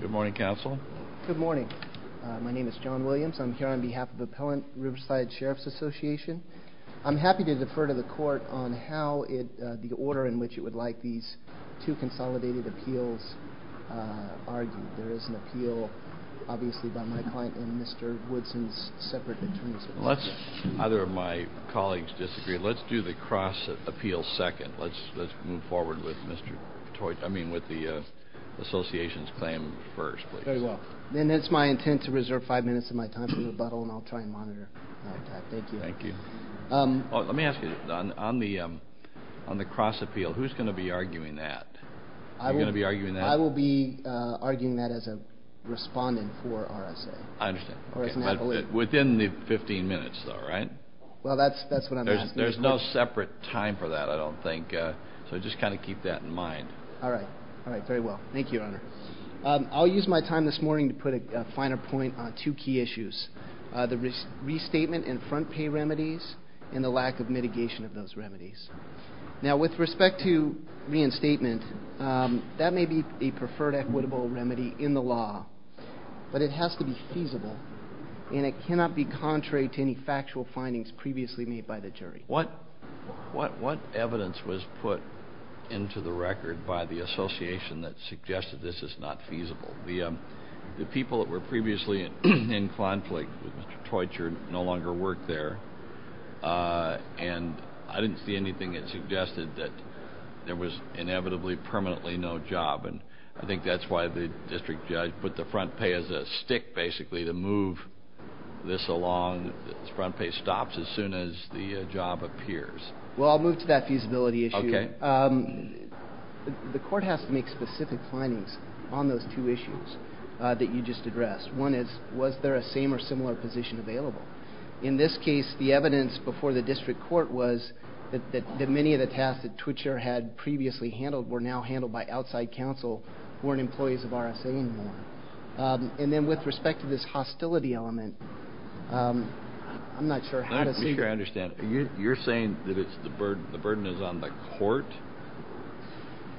Good morning, Counsel. Good morning. My name is John Williams. I'm here on behalf of Appellant Riverside Sheriffs Association. I'm happy to defer to the Court on how the order in which it would like these two consolidated appeals argued. There is an appeal, obviously, by my client and Mr. Woodson's separate attorneys. Unless either of my colleagues disagree, let's do the cross appeal second. Let's move forward with the association's claim first, please. Very well. Then it's my intent to reserve five minutes of my time for rebuttal, and I'll try and monitor that. Thank you. Thank you. Let me ask you, on the cross appeal, who's going to be arguing that? I will be arguing that as a respondent for RSA. I understand. Within the 15 minutes, though, right? Well, that's what I'm asking. There's no separate time for that, I don't think, so just kind of keep that in mind. All right. All right. Very well. Thank you, Your Honor. I'll use my time this morning to put a finer point on two key issues, the restatement and front pay remedies and the lack of mitigation of those remedies. Now, with respect to reinstatement, that may be a preferred equitable remedy in the law, but it has to be feasible, and it cannot be contrary to any factual findings previously made by the jury. What evidence was put into the record by the association that suggested this is not feasible? The people that were previously in conflict with Mr. Teutcher no longer work there, and I didn't see anything that suggested that there was inevitably permanently no job, and I think that's why the district judge put the front pay as a stick, basically, to move this along. The front pay stops as soon as the job appears. Well, I'll move to that feasibility issue. Okay. The court has to make specific findings on those two issues that you just addressed. One is, was there a same or similar position available? In this case, the evidence before the district court was that many of the tasks that Teutcher had previously handled were now handled by outside counsel who weren't employees of RSA anymore. And then with respect to this hostility element, I'm not sure how to see it. You're saying that the burden is on the court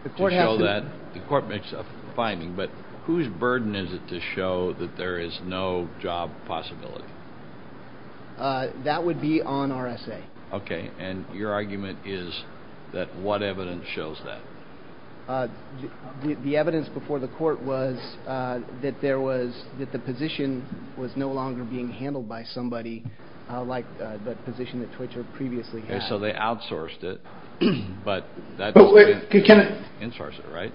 to show that? The court makes a finding, but whose burden is it to show that there is no job possibility? That would be on RSA. Okay. And your argument is that what evidence shows that? The evidence before the court was that the position was no longer being handled by somebody like the position that Teutcher previously had. So they outsourced it, but that doesn't mean they didn't outsource it, right?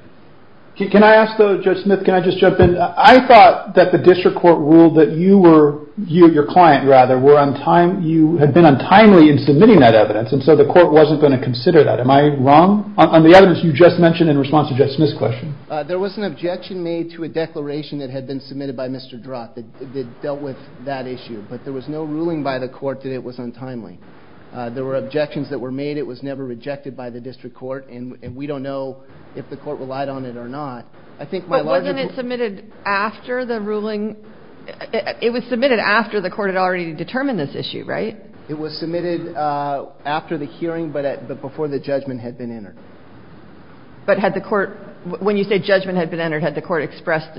Can I ask, though, Judge Smith, can I just jump in? I thought that the district court ruled that you were – your client, rather – you had been untimely in submitting that evidence, and so the court wasn't going to consider that. Am I wrong? On the evidence you just mentioned in response to Judge Smith's question. There was an objection made to a declaration that had been submitted by Mr. Drott that dealt with that issue, but there was no ruling by the court that it was untimely. There were objections that were made. It was never rejected by the district court, and we don't know if the court relied on it or not. But wasn't it submitted after the ruling? It was submitted after the court had already determined this issue, right? It was submitted after the hearing but before the judgment had been entered. But had the court – when you say judgment had been entered, had the court expressed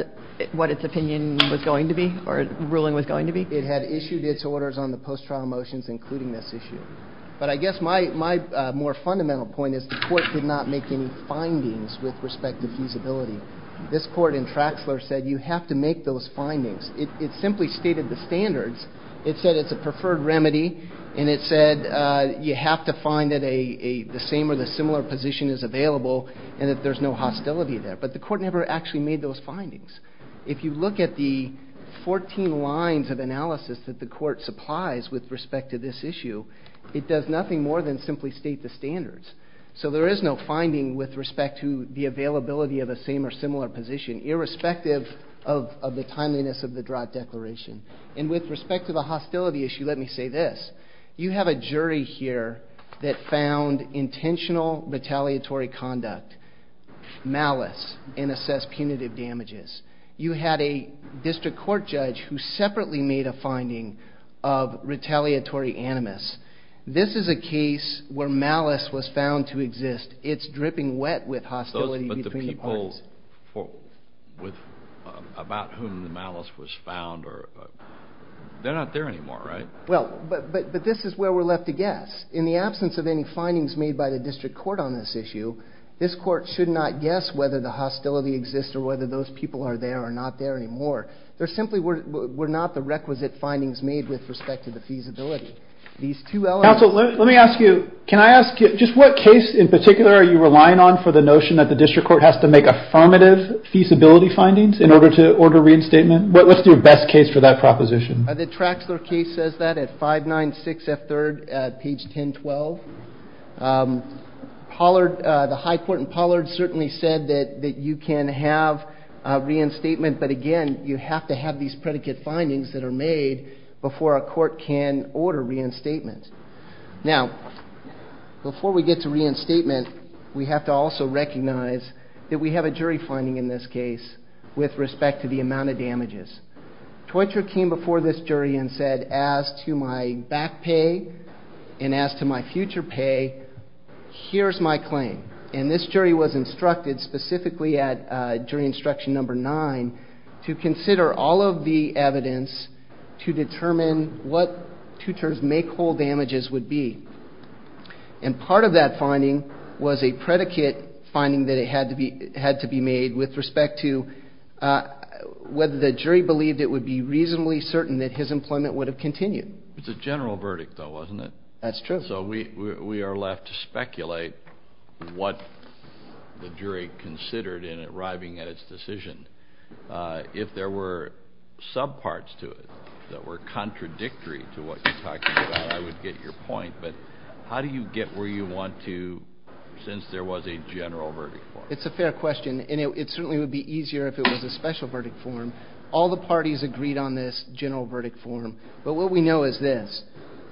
what its opinion was going to be or ruling was going to be? It had issued its orders on the post-trial motions including this issue. But I guess my more fundamental point is the court did not make any findings with respect to feasibility. This court in Traxler said you have to make those findings. It simply stated the standards. It said it's a preferred remedy, and it said you have to find that the same or the similar position is available and that there's no hostility there. But the court never actually made those findings. If you look at the 14 lines of analysis that the court supplies with respect to this issue, it does nothing more than simply state the standards. So there is no finding with respect to the availability of a same or similar position, irrespective of the timeliness of the Drott Declaration. And with respect to the hostility issue, let me say this. You have a jury here that found intentional retaliatory conduct, malice, and assessed punitive damages. You had a district court judge who separately made a finding of retaliatory animus. This is a case where malice was found to exist. It's dripping wet with hostility between the parties. About whom the malice was found, they're not there anymore, right? Well, but this is where we're left to guess. In the absence of any findings made by the district court on this issue, this court should not guess whether the hostility exists or whether those people are there or not there anymore. There simply were not the requisite findings made with respect to the feasibility. Counsel, let me ask you, can I ask you, just what case in particular are you relying on for the notion that the district court has to make affirmative feasibility findings in order to order reinstatement? What's your best case for that proposition? The Traxler case says that at 596F3rd, page 1012. Pollard, the high court in Pollard certainly said that you can have reinstatement, but again, you have to have these predicate findings that are made before a court can order reinstatement. Now, before we get to reinstatement, we have to also recognize that we have a jury finding in this case with respect to the amount of damages. Toitra came before this jury and said, as to my back pay and as to my future pay, here's my claim. And this jury was instructed specifically at jury instruction number nine to consider all of the evidence to determine what Toitra's make whole damages would be. And part of that finding was a predicate finding that had to be made with respect to whether the jury believed it would be reasonably certain that his employment would have continued. It's a general verdict, though, wasn't it? That's true. So we are left to speculate what the jury considered in arriving at its decision. If there were subparts to it that were contradictory to what you're talking about, I would get your point. But how do you get where you want to since there was a general verdict? It's a fair question. And it certainly would be easier if it was a special verdict form. All the parties agreed on this general verdict form. But what we know is this.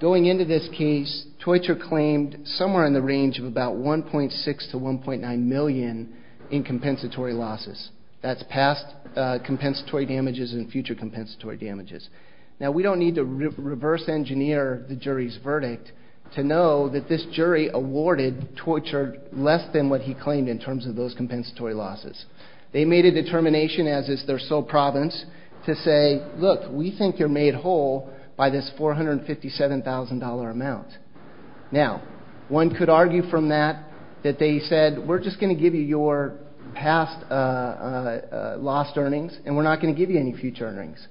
Going into this case, Toitra claimed somewhere in the range of about 1.6 to 1.9 million in compensatory losses. That's past compensatory damages and future compensatory damages. Now, we don't need to reverse engineer the jury's verdict to know that this jury awarded Toitra less than what he claimed in terms of those compensatory losses. They made a determination, as is their sole province, to say, look, we think you're made whole by this $457,000 amount. Now, one could argue from that that they said, we're just going to give you your past lost earnings and we're not going to give you any future earnings.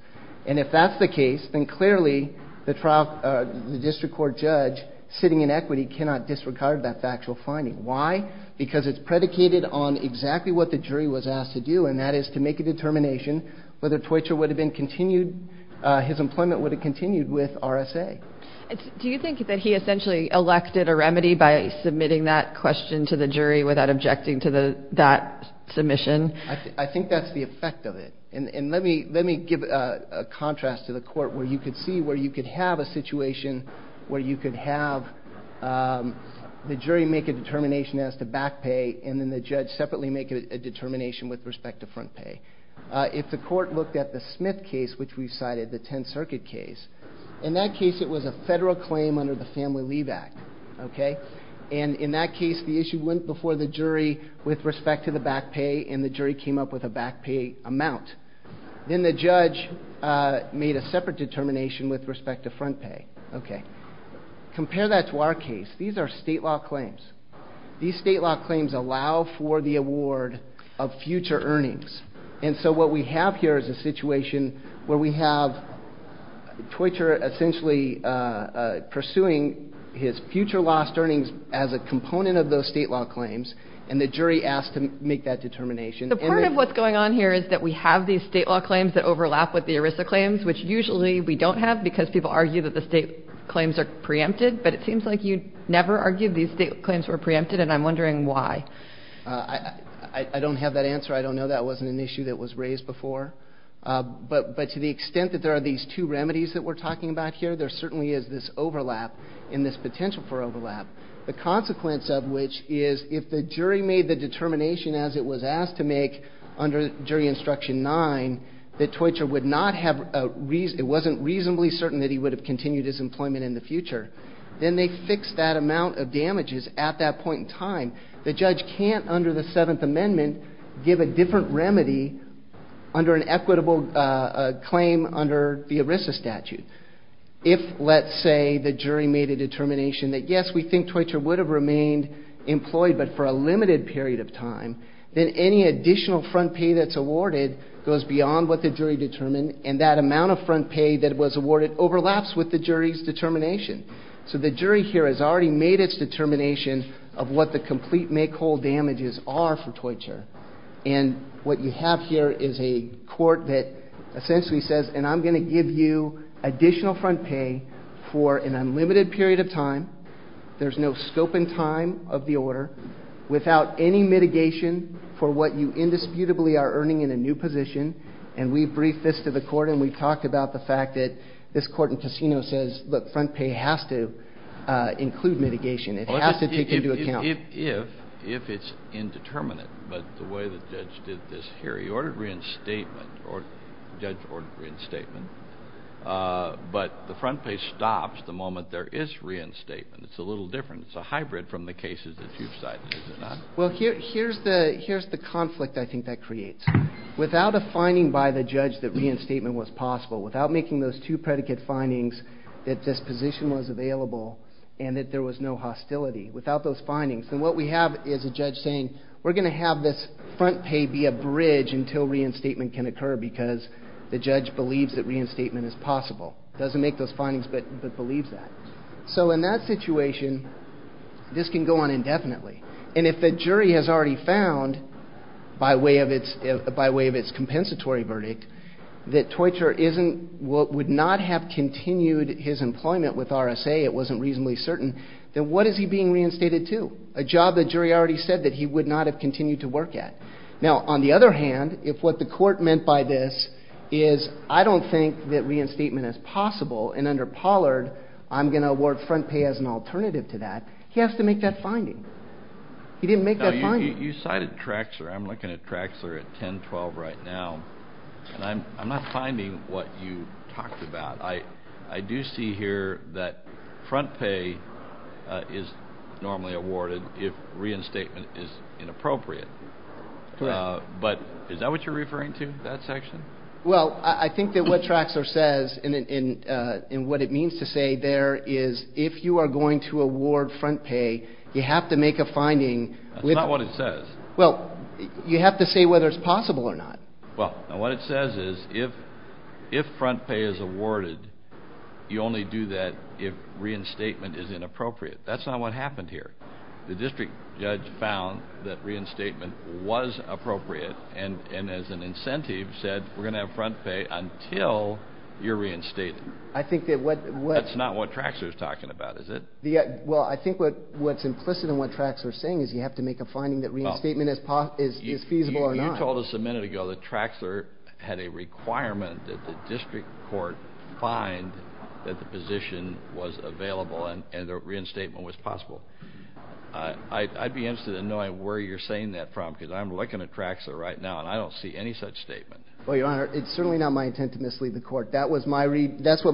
And if that's the case, then clearly the district court judge sitting in equity cannot disregard that factual finding. Why? Because it's predicated on exactly what the jury was asked to do, and that is to make a determination whether Toitra would have been continued, his employment would have continued with RSA. Do you think that he essentially elected a remedy by submitting that question to the jury without objecting to that submission? I think that's the effect of it. And let me give a contrast to the court where you could see where you could have a situation where you could have the jury make a determination as to back pay and then the judge separately make a determination with respect to front pay. If the court looked at the Smith case, which we cited, the Tenth Circuit case, in that case it was a federal claim under the Family Leave Act. And in that case the issue went before the jury with respect to the back pay and the jury came up with a back pay amount. Then the judge made a separate determination with respect to front pay. Compare that to our case. These are state law claims. These state law claims allow for the award of future earnings. And so what we have here is a situation where we have Toitra essentially pursuing his future lost earnings as a component of those state law claims and the jury asked to make that determination. The part of what's going on here is that we have these state law claims that overlap with the ERISA claims, which usually we don't have because people argue that the state claims are preempted. But it seems like you never argued these state claims were preempted, and I'm wondering why. I don't have that answer. I don't know. That wasn't an issue that was raised before. But to the extent that there are these two remedies that we're talking about here, there certainly is this overlap and this potential for overlap. The consequence of which is if the jury made the determination as it was asked to make under Jury Instruction 9 that Toitra wasn't reasonably certain that he would have continued his employment in the future, then they fixed that amount of damages at that point in time. The judge can't, under the 7th Amendment, give a different remedy under an equitable claim under the ERISA statute. If, let's say, the jury made a determination that, yes, we think Toitra would have remained employed but for a limited period of time, then any additional front pay that's awarded goes beyond what the jury determined and that amount of front pay that was awarded overlaps with the jury's determination. So the jury here has already made its determination of what the complete make-whole damages are for Toitra. And what you have here is a court that essentially says, and I'm going to give you additional front pay for an unlimited period of time, there's no scope and time of the order, without any mitigation for what you indisputably are earning in a new position. And we briefed this to the court and we talked about the fact that this court in Cassino says, look, front pay has to include mitigation. It has to take into account. If it's indeterminate, but the way the judge did this here, he ordered reinstatement, the judge ordered reinstatement, but the front pay stops the moment there is reinstatement. It's a little different. It's a hybrid from the cases that you've cited, is it not? Well, here's the conflict I think that creates. Without a finding by the judge that reinstatement was possible, without making those two predicate findings that this position was available and that there was no hostility, without those findings, then what we have is a judge saying, we're going to have this front pay be a bridge until reinstatement can occur because the judge believes that reinstatement is possible. It doesn't make those findings, but believes that. So in that situation, this can go on indefinitely. And if the jury has already found, by way of its compensatory verdict, that Toycher would not have continued his employment with RSA, it wasn't reasonably certain, then what is he being reinstated to? A job the jury already said that he would not have continued to work at. Now, on the other hand, if what the court meant by this is, I don't think that reinstatement is possible, and under Pollard, I'm going to award front pay as an alternative to that, He didn't make that finding. You cited Traxler. I'm looking at Traxler at 10-12 right now. I'm not finding what you talked about. I do see here that front pay is normally awarded if reinstatement is inappropriate. Correct. But is that what you're referring to, that section? Well, I think that what Traxler says and what it means to say there is, if you are going to award front pay, you have to make a finding. That's not what it says. Well, you have to say whether it's possible or not. Well, what it says is, if front pay is awarded, you only do that if reinstatement is inappropriate. That's not what happened here. The district judge found that reinstatement was appropriate, and as an incentive said, we're going to have front pay until you're reinstated. I think that what… That's not what Traxler's talking about, is it? Well, I think what's implicit in what Traxler's saying is you have to make a finding that reinstatement is feasible or not. You told us a minute ago that Traxler had a requirement that the district court find that the position was available and that reinstatement was possible. I'd be interested in knowing where you're saying that from because I'm looking at Traxler right now, and I don't see any such statement. Well, Your Honor, it's certainly not my intent to mislead the court. That's what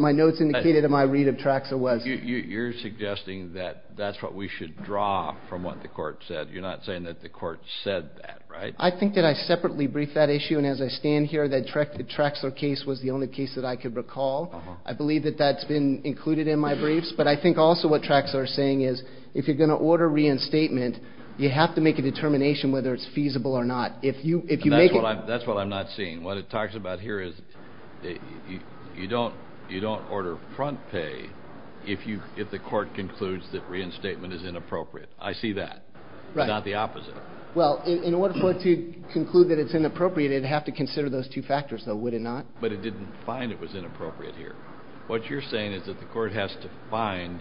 my notes indicated in my read of Traxler was. You're suggesting that that's what we should draw from what the court said. You're not saying that the court said that, right? I think that I separately briefed that issue, and as I stand here that the Traxler case was the only case that I could recall. I believe that that's been included in my briefs, but I think also what Traxler's saying is if you're going to order reinstatement, you have to make a determination whether it's feasible or not. That's what I'm not seeing. What it talks about here is you don't order front pay if the court concludes that reinstatement is inappropriate. I see that. Right. Not the opposite. Well, in order for it to conclude that it's inappropriate, it'd have to consider those two factors, though, would it not? But it didn't find it was inappropriate here. What you're saying is that the court has to find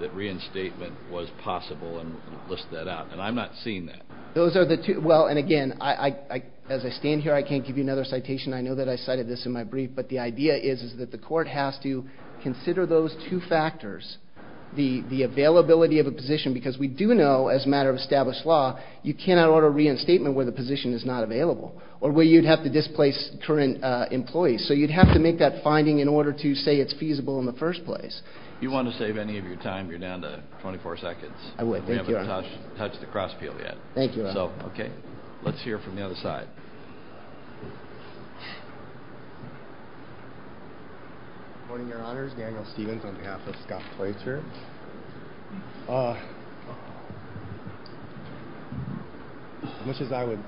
that reinstatement was possible and list that out, and I'm not seeing that. Those are the two. Well, and again, as I stand here, I can't give you another citation. I know that I cited this in my brief, but the idea is that the court has to consider those two factors, the availability of a position because we do know as a matter of established law you cannot order reinstatement where the position is not available or where you'd have to displace current employees. So you'd have to make that finding in order to say it's feasible in the first place. If you want to save any of your time, you're down to 24 seconds. I would. Thank you, Your Honor. We haven't touched the cross peel yet. Thank you, Your Honor. Okay. Let's hear from the other side. Good morning, Your Honors. Daniel Stevens on behalf of Scott Plaitzer. As much as I would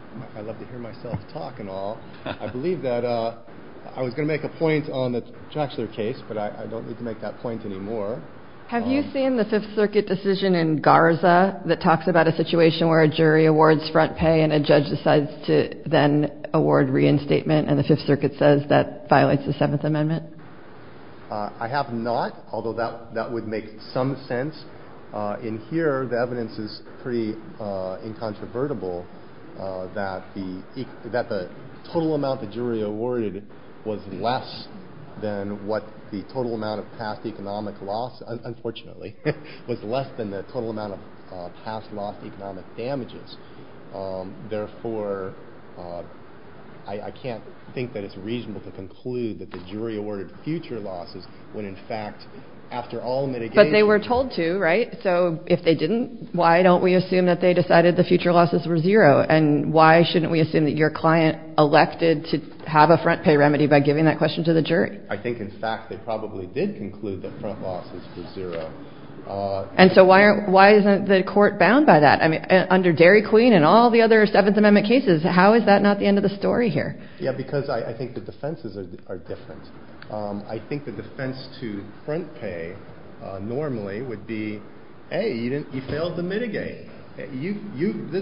love to hear myself talk and all, I believe that I was going to make a point on the Trachler case, but I don't need to make that point anymore. Have you seen the Fifth Circuit decision in Garza that talks about a situation where a jury awards front pay and a judge decides to then award reinstatement and the Fifth Circuit says that violates the Seventh Amendment? I have not, although that would make some sense. In here, the evidence is pretty incontrovertible that the total amount the jury awarded was less than what the total amount of past economic loss, unfortunately, was less than the total amount of past loss economic damages. Therefore, I can't think that it's reasonable to conclude that the jury awarded future losses when, in fact, after all mitigations. But they were told to, right? So if they didn't, why don't we assume that they decided the future losses were zero? And why shouldn't we assume that your client elected to have a front pay remedy by giving that question to the jury? I think, in fact, they probably did conclude that front losses were zero. And so why isn't the court bound by that? I mean, under Dairy Queen and all the other Seventh Amendment cases, how is that not the end of the story here? Yeah, because I think the defenses are different. I think the defense to front pay normally would be, A, you failed to mitigate. This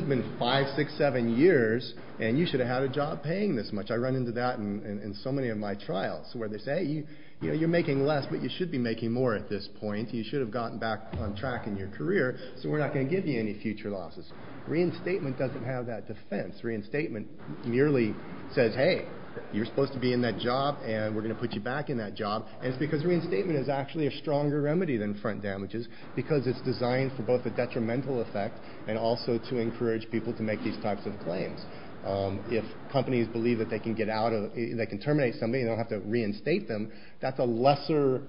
has been five, six, seven years, and you should have had a job paying this much. I run into that in so many of my trials where they say, You're making less, but you should be making more at this point. You should have gotten back on track in your career, so we're not going to give you any future losses. Reinstatement doesn't have that defense. Reinstatement merely says, Hey, you're supposed to be in that job, and we're going to put you back in that job. And it's because reinstatement is actually a stronger remedy than front damages because it's designed for both a detrimental effect and also to encourage people to make these types of claims. If companies believe that they can terminate somebody and they don't have to reinstate them, that's a lesser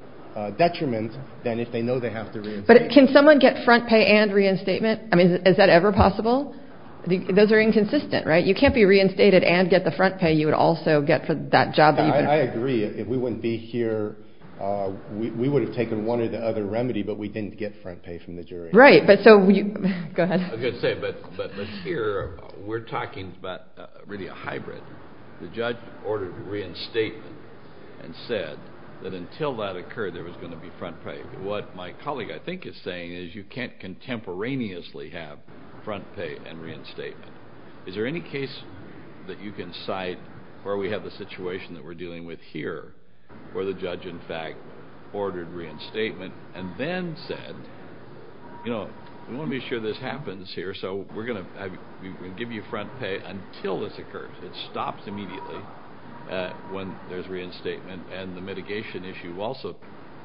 detriment than if they know they have to reinstate them. But can someone get front pay and reinstatement? I mean, is that ever possible? Those are inconsistent, right? You can't be reinstated and get the front pay. You would also get that job that you've been paid. I agree. If we wouldn't be here, we would have taken one or the other remedy, but we didn't get front pay from the jury. Right. Go ahead. I was going to say, but here we're talking about really a hybrid. The judge ordered reinstatement and said that until that occurred there was going to be front pay. What my colleague, I think, is saying is you can't contemporaneously have front pay and reinstatement. Is there any case that you can cite where we have the situation that we're dealing with here where the judge, in fact, ordered reinstatement and then said, you know, we want to be sure this happens here, so we're going to give you front pay until this occurs. It stops immediately when there's reinstatement, and the mitigation issue also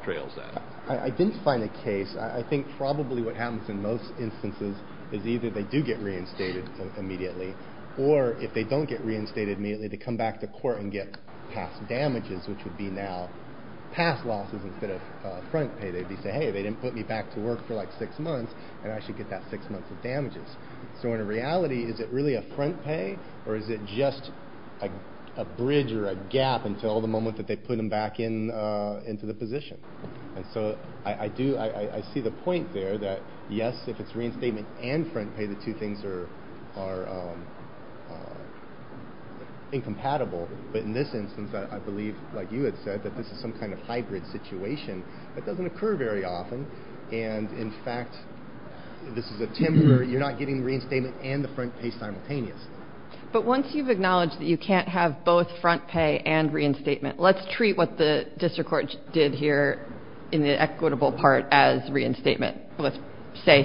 trails that. I didn't find a case. I think probably what happens in most instances is either they do get reinstated immediately or, if they don't get reinstated immediately, they come back to court and get past damages, which would be now past losses instead of front pay. They'd be saying, hey, they didn't put me back to work for like six months and I should get that six months of damages. So in reality, is it really a front pay or is it just a bridge or a gap until the moment that they put them back into the position? And so I do see the point there that, yes, if it's reinstatement and front pay, the two things are incompatible. But in this instance, I believe, like you had said, that this is some kind of hybrid situation that doesn't occur very often. And, in fact, this is a temporary. You're not getting reinstatement and the front pay simultaneous. But once you've acknowledged that you can't have both front pay and reinstatement, let's treat what the district court did here in the equitable part as reinstatement. Let's say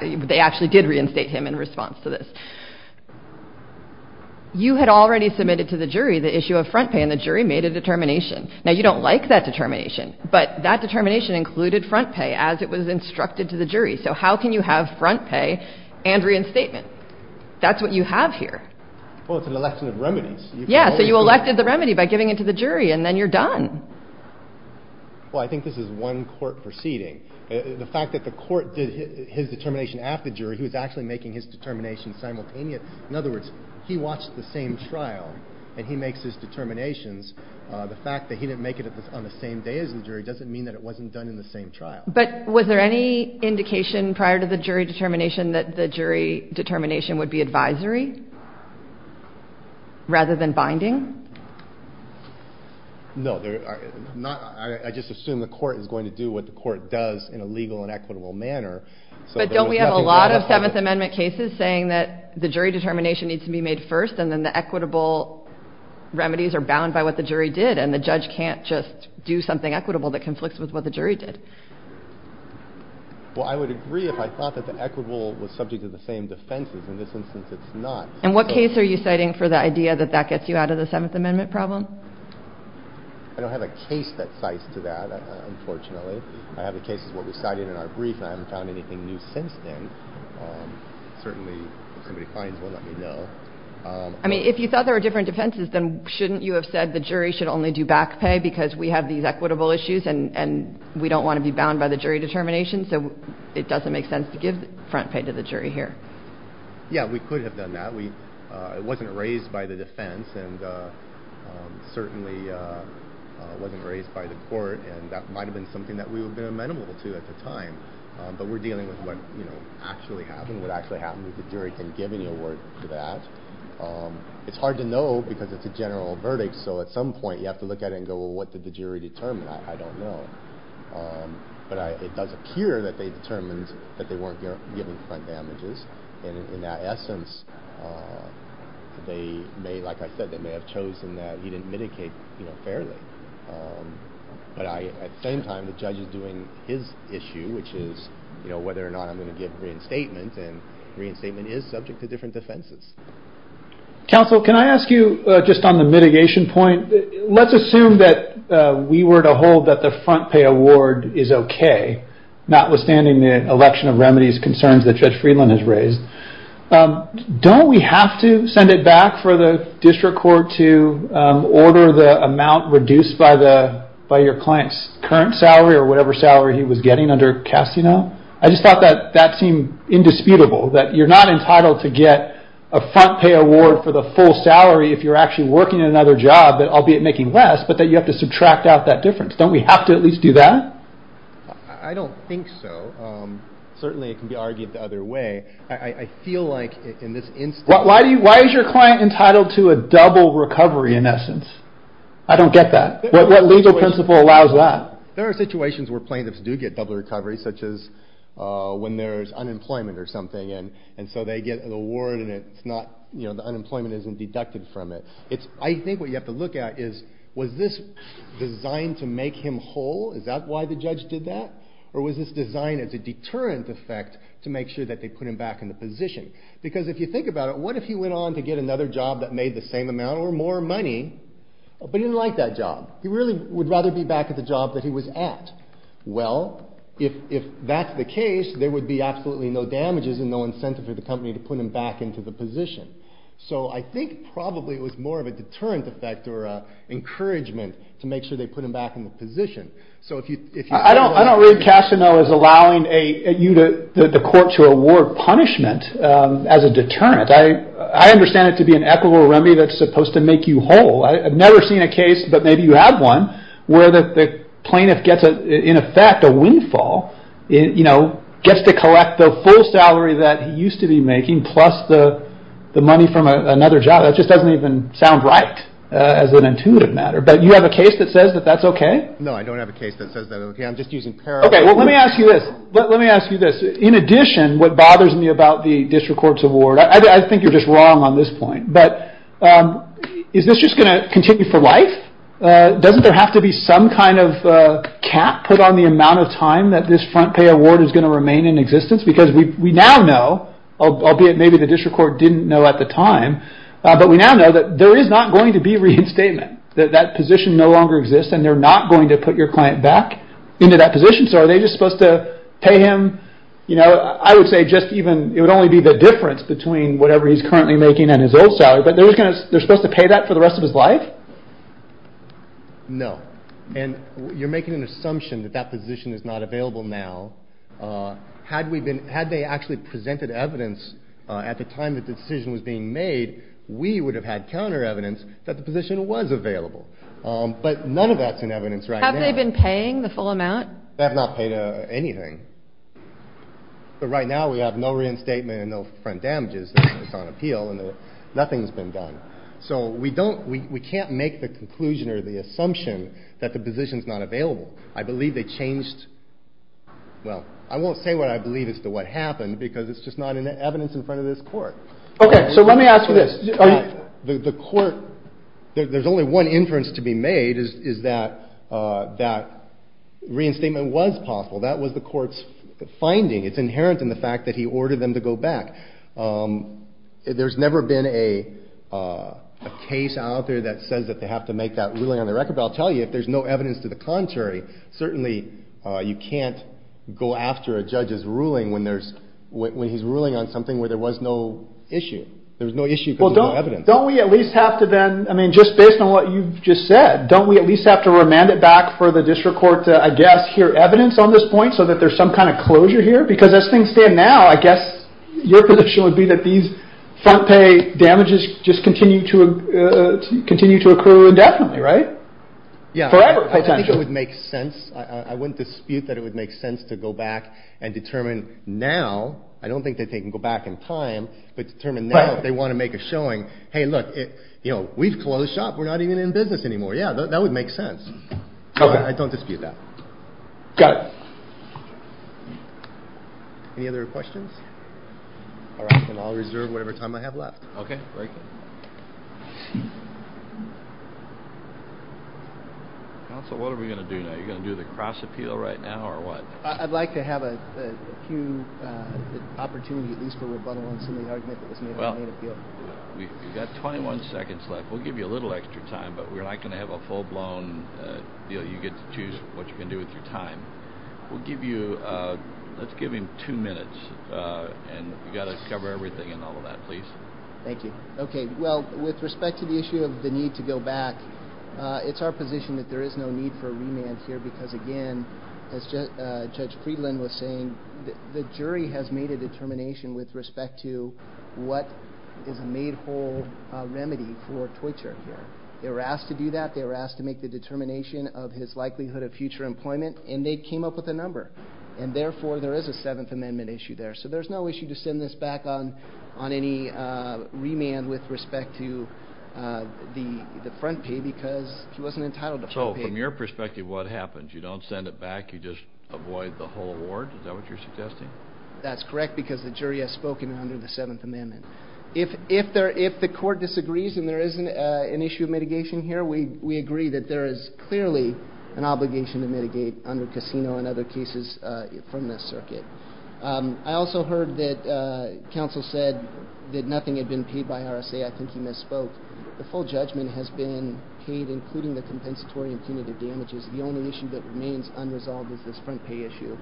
they actually did reinstate him in response to this. You had already submitted to the jury the issue of front pay and the jury made a determination. Now, you don't like that determination, but that determination included front pay as it was instructed to the jury. So how can you have front pay and reinstatement? That's what you have here. Well, it's an election of remedies. Yeah, so you elected the remedy by giving it to the jury and then you're done. Well, I think this is one court proceeding. The fact that the court did his determination after the jury, he was actually making his determination simultaneous. In other words, he watched the same trial and he makes his determinations. The fact that he didn't make it on the same day as the jury doesn't mean that it wasn't done in the same trial. But was there any indication prior to the jury determination that the jury determination would be advisory rather than binding? No. I just assume the court is going to do what the court does in a legal and equitable manner. But don't we have a lot of Seventh Amendment cases saying that the jury determination needs to be made first and then the equitable remedies are bound by what the jury did and the judge can't just do something equitable that conflicts with what the jury did. Well, I would agree if I thought that the equitable was subject to the same defenses. In this instance, it's not. And what case are you citing for the idea that that gets you out of the Seventh Amendment problem? I don't have a case that cites to that, unfortunately. I have a case that's what we cited in our brief and I haven't found anything new since then. Certainly, if somebody finds one, let me know. I mean, if you thought there were different defenses, then shouldn't you have said the jury should only do back pay because we have these equitable issues and we don't want to be bound by the jury determination? So it doesn't make sense to give front pay to the jury here. Yeah, we could have done that. It wasn't raised by the defense and certainly wasn't raised by the court. And that might have been something that we would have been amenable to at the time. But we're dealing with what actually happened. What actually happened was the jury didn't give any award for that. It's hard to know because it's a general verdict, so at some point you have to look at it and go, well, what did the jury determine? I don't know. But it does appear that they determined that they weren't giving front damages. And in that essence, like I said, they may have chosen that he didn't mitigate fairly. But at the same time, the judge is doing his issue, which is whether or not I'm going to give reinstatement, and reinstatement is subject to different defenses. Counsel, can I ask you, just on the mitigation point, let's assume that we were to hold that the front pay award is okay, notwithstanding the election of remedies concerns that Judge Friedland has raised. Don't we have to send it back for the district court to order the amount reduced by your client's current salary or whatever salary he was getting under Casino? I just thought that that seemed indisputable, that you're not entitled to get a front pay award for the full salary if you're actually working at another job, albeit making less, but that you have to subtract out that difference. Don't we have to at least do that? I don't think so. Certainly it can be argued the other way. I feel like in this instance... Why is your client entitled to a double recovery in essence? I don't get that. What legal principle allows that? There are situations where plaintiffs do get double recovery, such as when there's unemployment or something, and so they get an award and the unemployment isn't deducted from it. I think what you have to look at is, was this designed to make him whole? Is that why the judge did that? Or was this designed as a deterrent effect to make sure that they put him back in the position? Because if you think about it, what if he went on to get another job that made the same amount or more money, but he didn't like that job? He really would rather be back at the job that he was at. Well, if that's the case, there would be absolutely no damages and no incentive for the company to put him back into the position. So I think probably it was more of a deterrent effect or an encouragement to make sure they put him back in the position. I don't really cash to know is allowing the court to award punishment as a deterrent. I understand it to be an equitable remedy that's supposed to make you whole. I've never seen a case, but maybe you have one, where the plaintiff gets, in effect, a windfall, gets to collect the full salary that he used to be making plus the money from another job. That just doesn't even sound right as an intuitive matter. But you have a case that says that that's okay? No, I don't have a case that says that's okay. I'm just using parallel... Okay, well, let me ask you this. In addition, what bothers me about the district court's award, I think you're just wrong on this point, but is this just going to continue for life? Doesn't there have to be some kind of cap put on the amount of time that this front pay award is going to remain in existence? Because we now know, albeit maybe the district court didn't know at the time, but we now know that there is not going to be reinstatement, that that position no longer exists, and they're not going to put your client back into that position. So are they just supposed to pay him, you know, I would say just even... It would only be the difference between whatever he's currently making and his old salary, but they're supposed to pay that for the rest of his life? No. And you're making an assumption that that position is not available now. Had we been... Had they actually presented evidence at the time that the decision was being made, we would have had counter evidence that the position was available. But none of that's in evidence right now. Have they been paying the full amount? They have not paid anything. But right now we have no reinstatement and no front damages. It's on appeal, and nothing's been done. So we don't... We can't make the conclusion or the assumption that the position's not available. I believe they changed... Well, I won't say what I believe as to what happened because it's just not in the evidence in front of this court. Okay, so let me ask you this. The court... There's only one inference to be made, is that that reinstatement was possible. That was the court's finding. It's inherent in the fact that he ordered them to go back. There's never been a case out there that says that they have to make that ruling on the record. But I'll tell you, if there's no evidence to the contrary, certainly you can't go after a judge's ruling when there's... When he's ruling on something where there was no issue. There was no issue because there's no evidence. Don't we at least have to then... I mean, just based on what you've just said, don't we at least have to remand it back for the district court to, I guess, hear evidence on this point so that there's some kind of closure here? Because as things stand now, I guess your position would be that these front pay damages just continue to accrue indefinitely, right? Yeah. Forever, potentially. I think it would make sense. I wouldn't dispute that it would make sense to go back and determine now. I don't think that they can go back in time, but determine now if they want to make a showing, hey, look, we've closed shop. We're not even in business anymore. Yeah, that would make sense. I don't dispute that. Got it. Any other questions? All right, then I'll reserve whatever time I have left. Okay, thank you. Counsel, what are we going to do now? Are you going to do the cross appeal right now or what? I'd like to have a few opportunities at least for rebuttal on some of the argument that was made. Well, we've got 21 seconds left. We'll give you a little extra time, but we're not going to have a full-blown deal. You get to choose what you're going to do with your time. We'll give you, let's give him two minutes, and you've got to cover everything and all of that, please. Thank you. Okay, well, with respect to the issue of the need to go back, it's our position that there is no need for a remand here because, again, as Judge Friedland was saying, the jury has made a determination with respect to what is a made-whole remedy for torture here. They were asked to do that. They were asked to make the determination of his likelihood of future employment, and they came up with a number, and therefore there is a Seventh Amendment issue there. So there's no issue to send this back on any remand with respect to the front pay because he wasn't entitled to front pay. So from your perspective, what happens? You don't send it back? You just avoid the whole award? Is that what you're suggesting? That's correct because the jury has spoken under the Seventh Amendment. If the court disagrees and there isn't an issue of mitigation here, we agree that there is clearly an obligation to mitigate under casino and other cases from this circuit. I also heard that counsel said that nothing had been paid by RSA. I think he misspoke. The full judgment has been paid, including the compensatory and punitive damages. The only issue that remains unresolved is this front pay issue,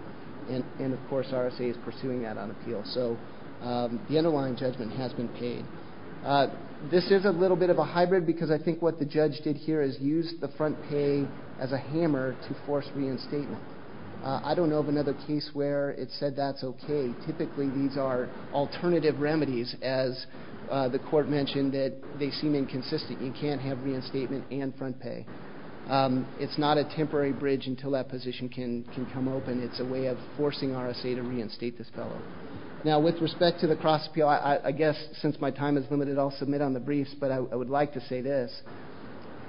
and, of course, RSA is pursuing that on appeal. So the underlying judgment has been paid. This is a little bit of a hybrid because I think what the judge did here is use the front pay as a hammer to force reinstatement. I don't know of another case where it said that's okay. Typically these are alternative remedies, as the court mentioned, that they seem inconsistent. You can't have reinstatement and front pay. It's not a temporary bridge until that position can come open. It's a way of forcing RSA to reinstate this fellow. Now, with respect to the cross appeal, I guess since my time is limited, I'll submit on the briefs, but I would like to say this.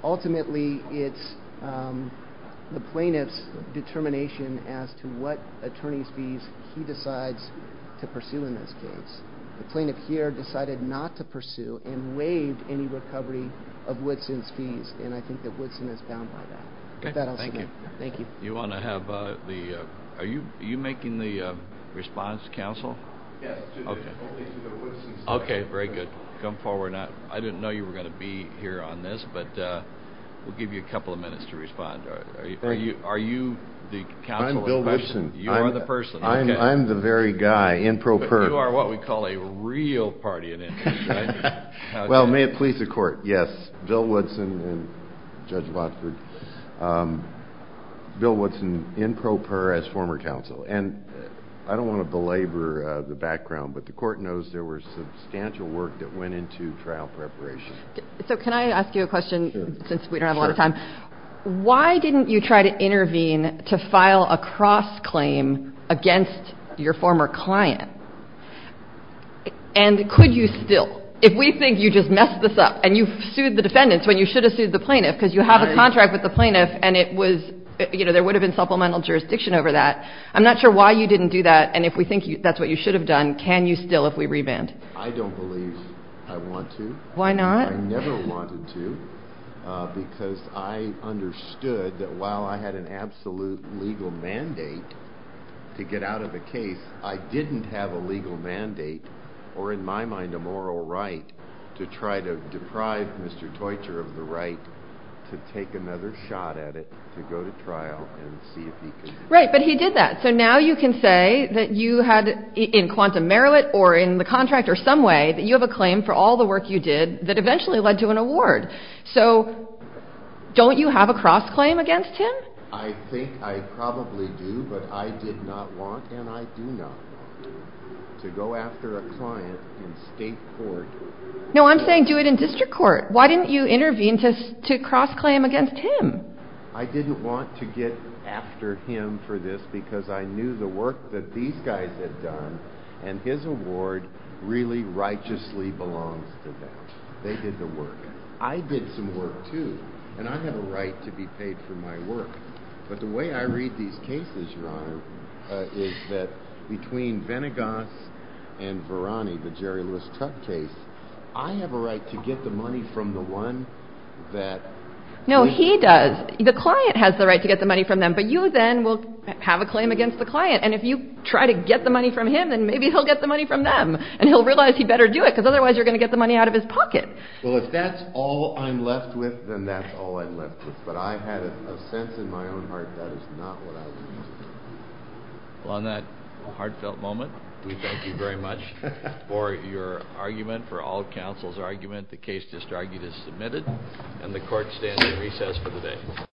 Ultimately, it's the plaintiff's determination as to what attorney's fees he decides to pursue in this case. The plaintiff here decided not to pursue and waived any recovery of Woodson's fees, and I think that Woodson is bound by that. Thank you. Thank you. Are you making the response to counsel? Yes. Okay, very good. Come forward. I didn't know you were going to be here on this, but we'll give you a couple of minutes to respond. Are you the counsel of the person? I'm Bill Woodson. You are the person. I'm the very guy in pro per. You are what we call a real party in it. Well, may it please the court, yes, Bill Woodson and Judge Watford. Bill Woodson in pro per as former counsel. And I don't want to belabor the background, but the court knows there was substantial work that went into trial preparation. So can I ask you a question since we don't have a lot of time? Sure. Why didn't you try to intervene to file a cross-claim against your former client? And could you still? If we think you just messed this up and you've sued the defendants when you should have sued the plaintiff because you have a contract with the plaintiff and there would have been supplemental jurisdiction over that. I'm not sure why you didn't do that, and if we think that's what you should have done, can you still if we revand? I don't believe I want to. Why not? I never wanted to because I understood that while I had an absolute legal mandate to get out of a case, I didn't have a legal mandate or in my mind a moral right to try to deprive Mr. Teutcher of the right to take another shot at it to go to trial and see if he could. Right, but he did that. So now you can say that you had in quantum merit or in the contract or some way that you have a claim for all the work you did that eventually led to an award. So don't you have a cross-claim against him? I think I probably do, but I did not want and I do not to go after a client in state court. No, I'm saying do it in district court. Why didn't you intervene to cross-claim against him? I didn't want to get after him for this because I knew the work that these guys had done and his award really righteously belongs to them. They did the work. I did some work too, and I have a right to be paid for my work. But the way I read these cases, Your Honor, is that between Venegas and Varani, the Jerry Lewis Tuck case, I have a right to get the money from the one that… No, he does. The client has the right to get the money from them, but you then will have a claim against the client. And if you try to get the money from him, then maybe he'll get the money from them and he'll realize he better do it because otherwise you're going to get the money out of his pocket. Well, if that's all I'm left with, then that's all I'm left with. But I had a sense in my own heart that is not what I was going to do. Well, on that heartfelt moment, we thank you very much for your argument, for all counsel's argument. The case just argued is submitted, and the Court stands in recess for the day.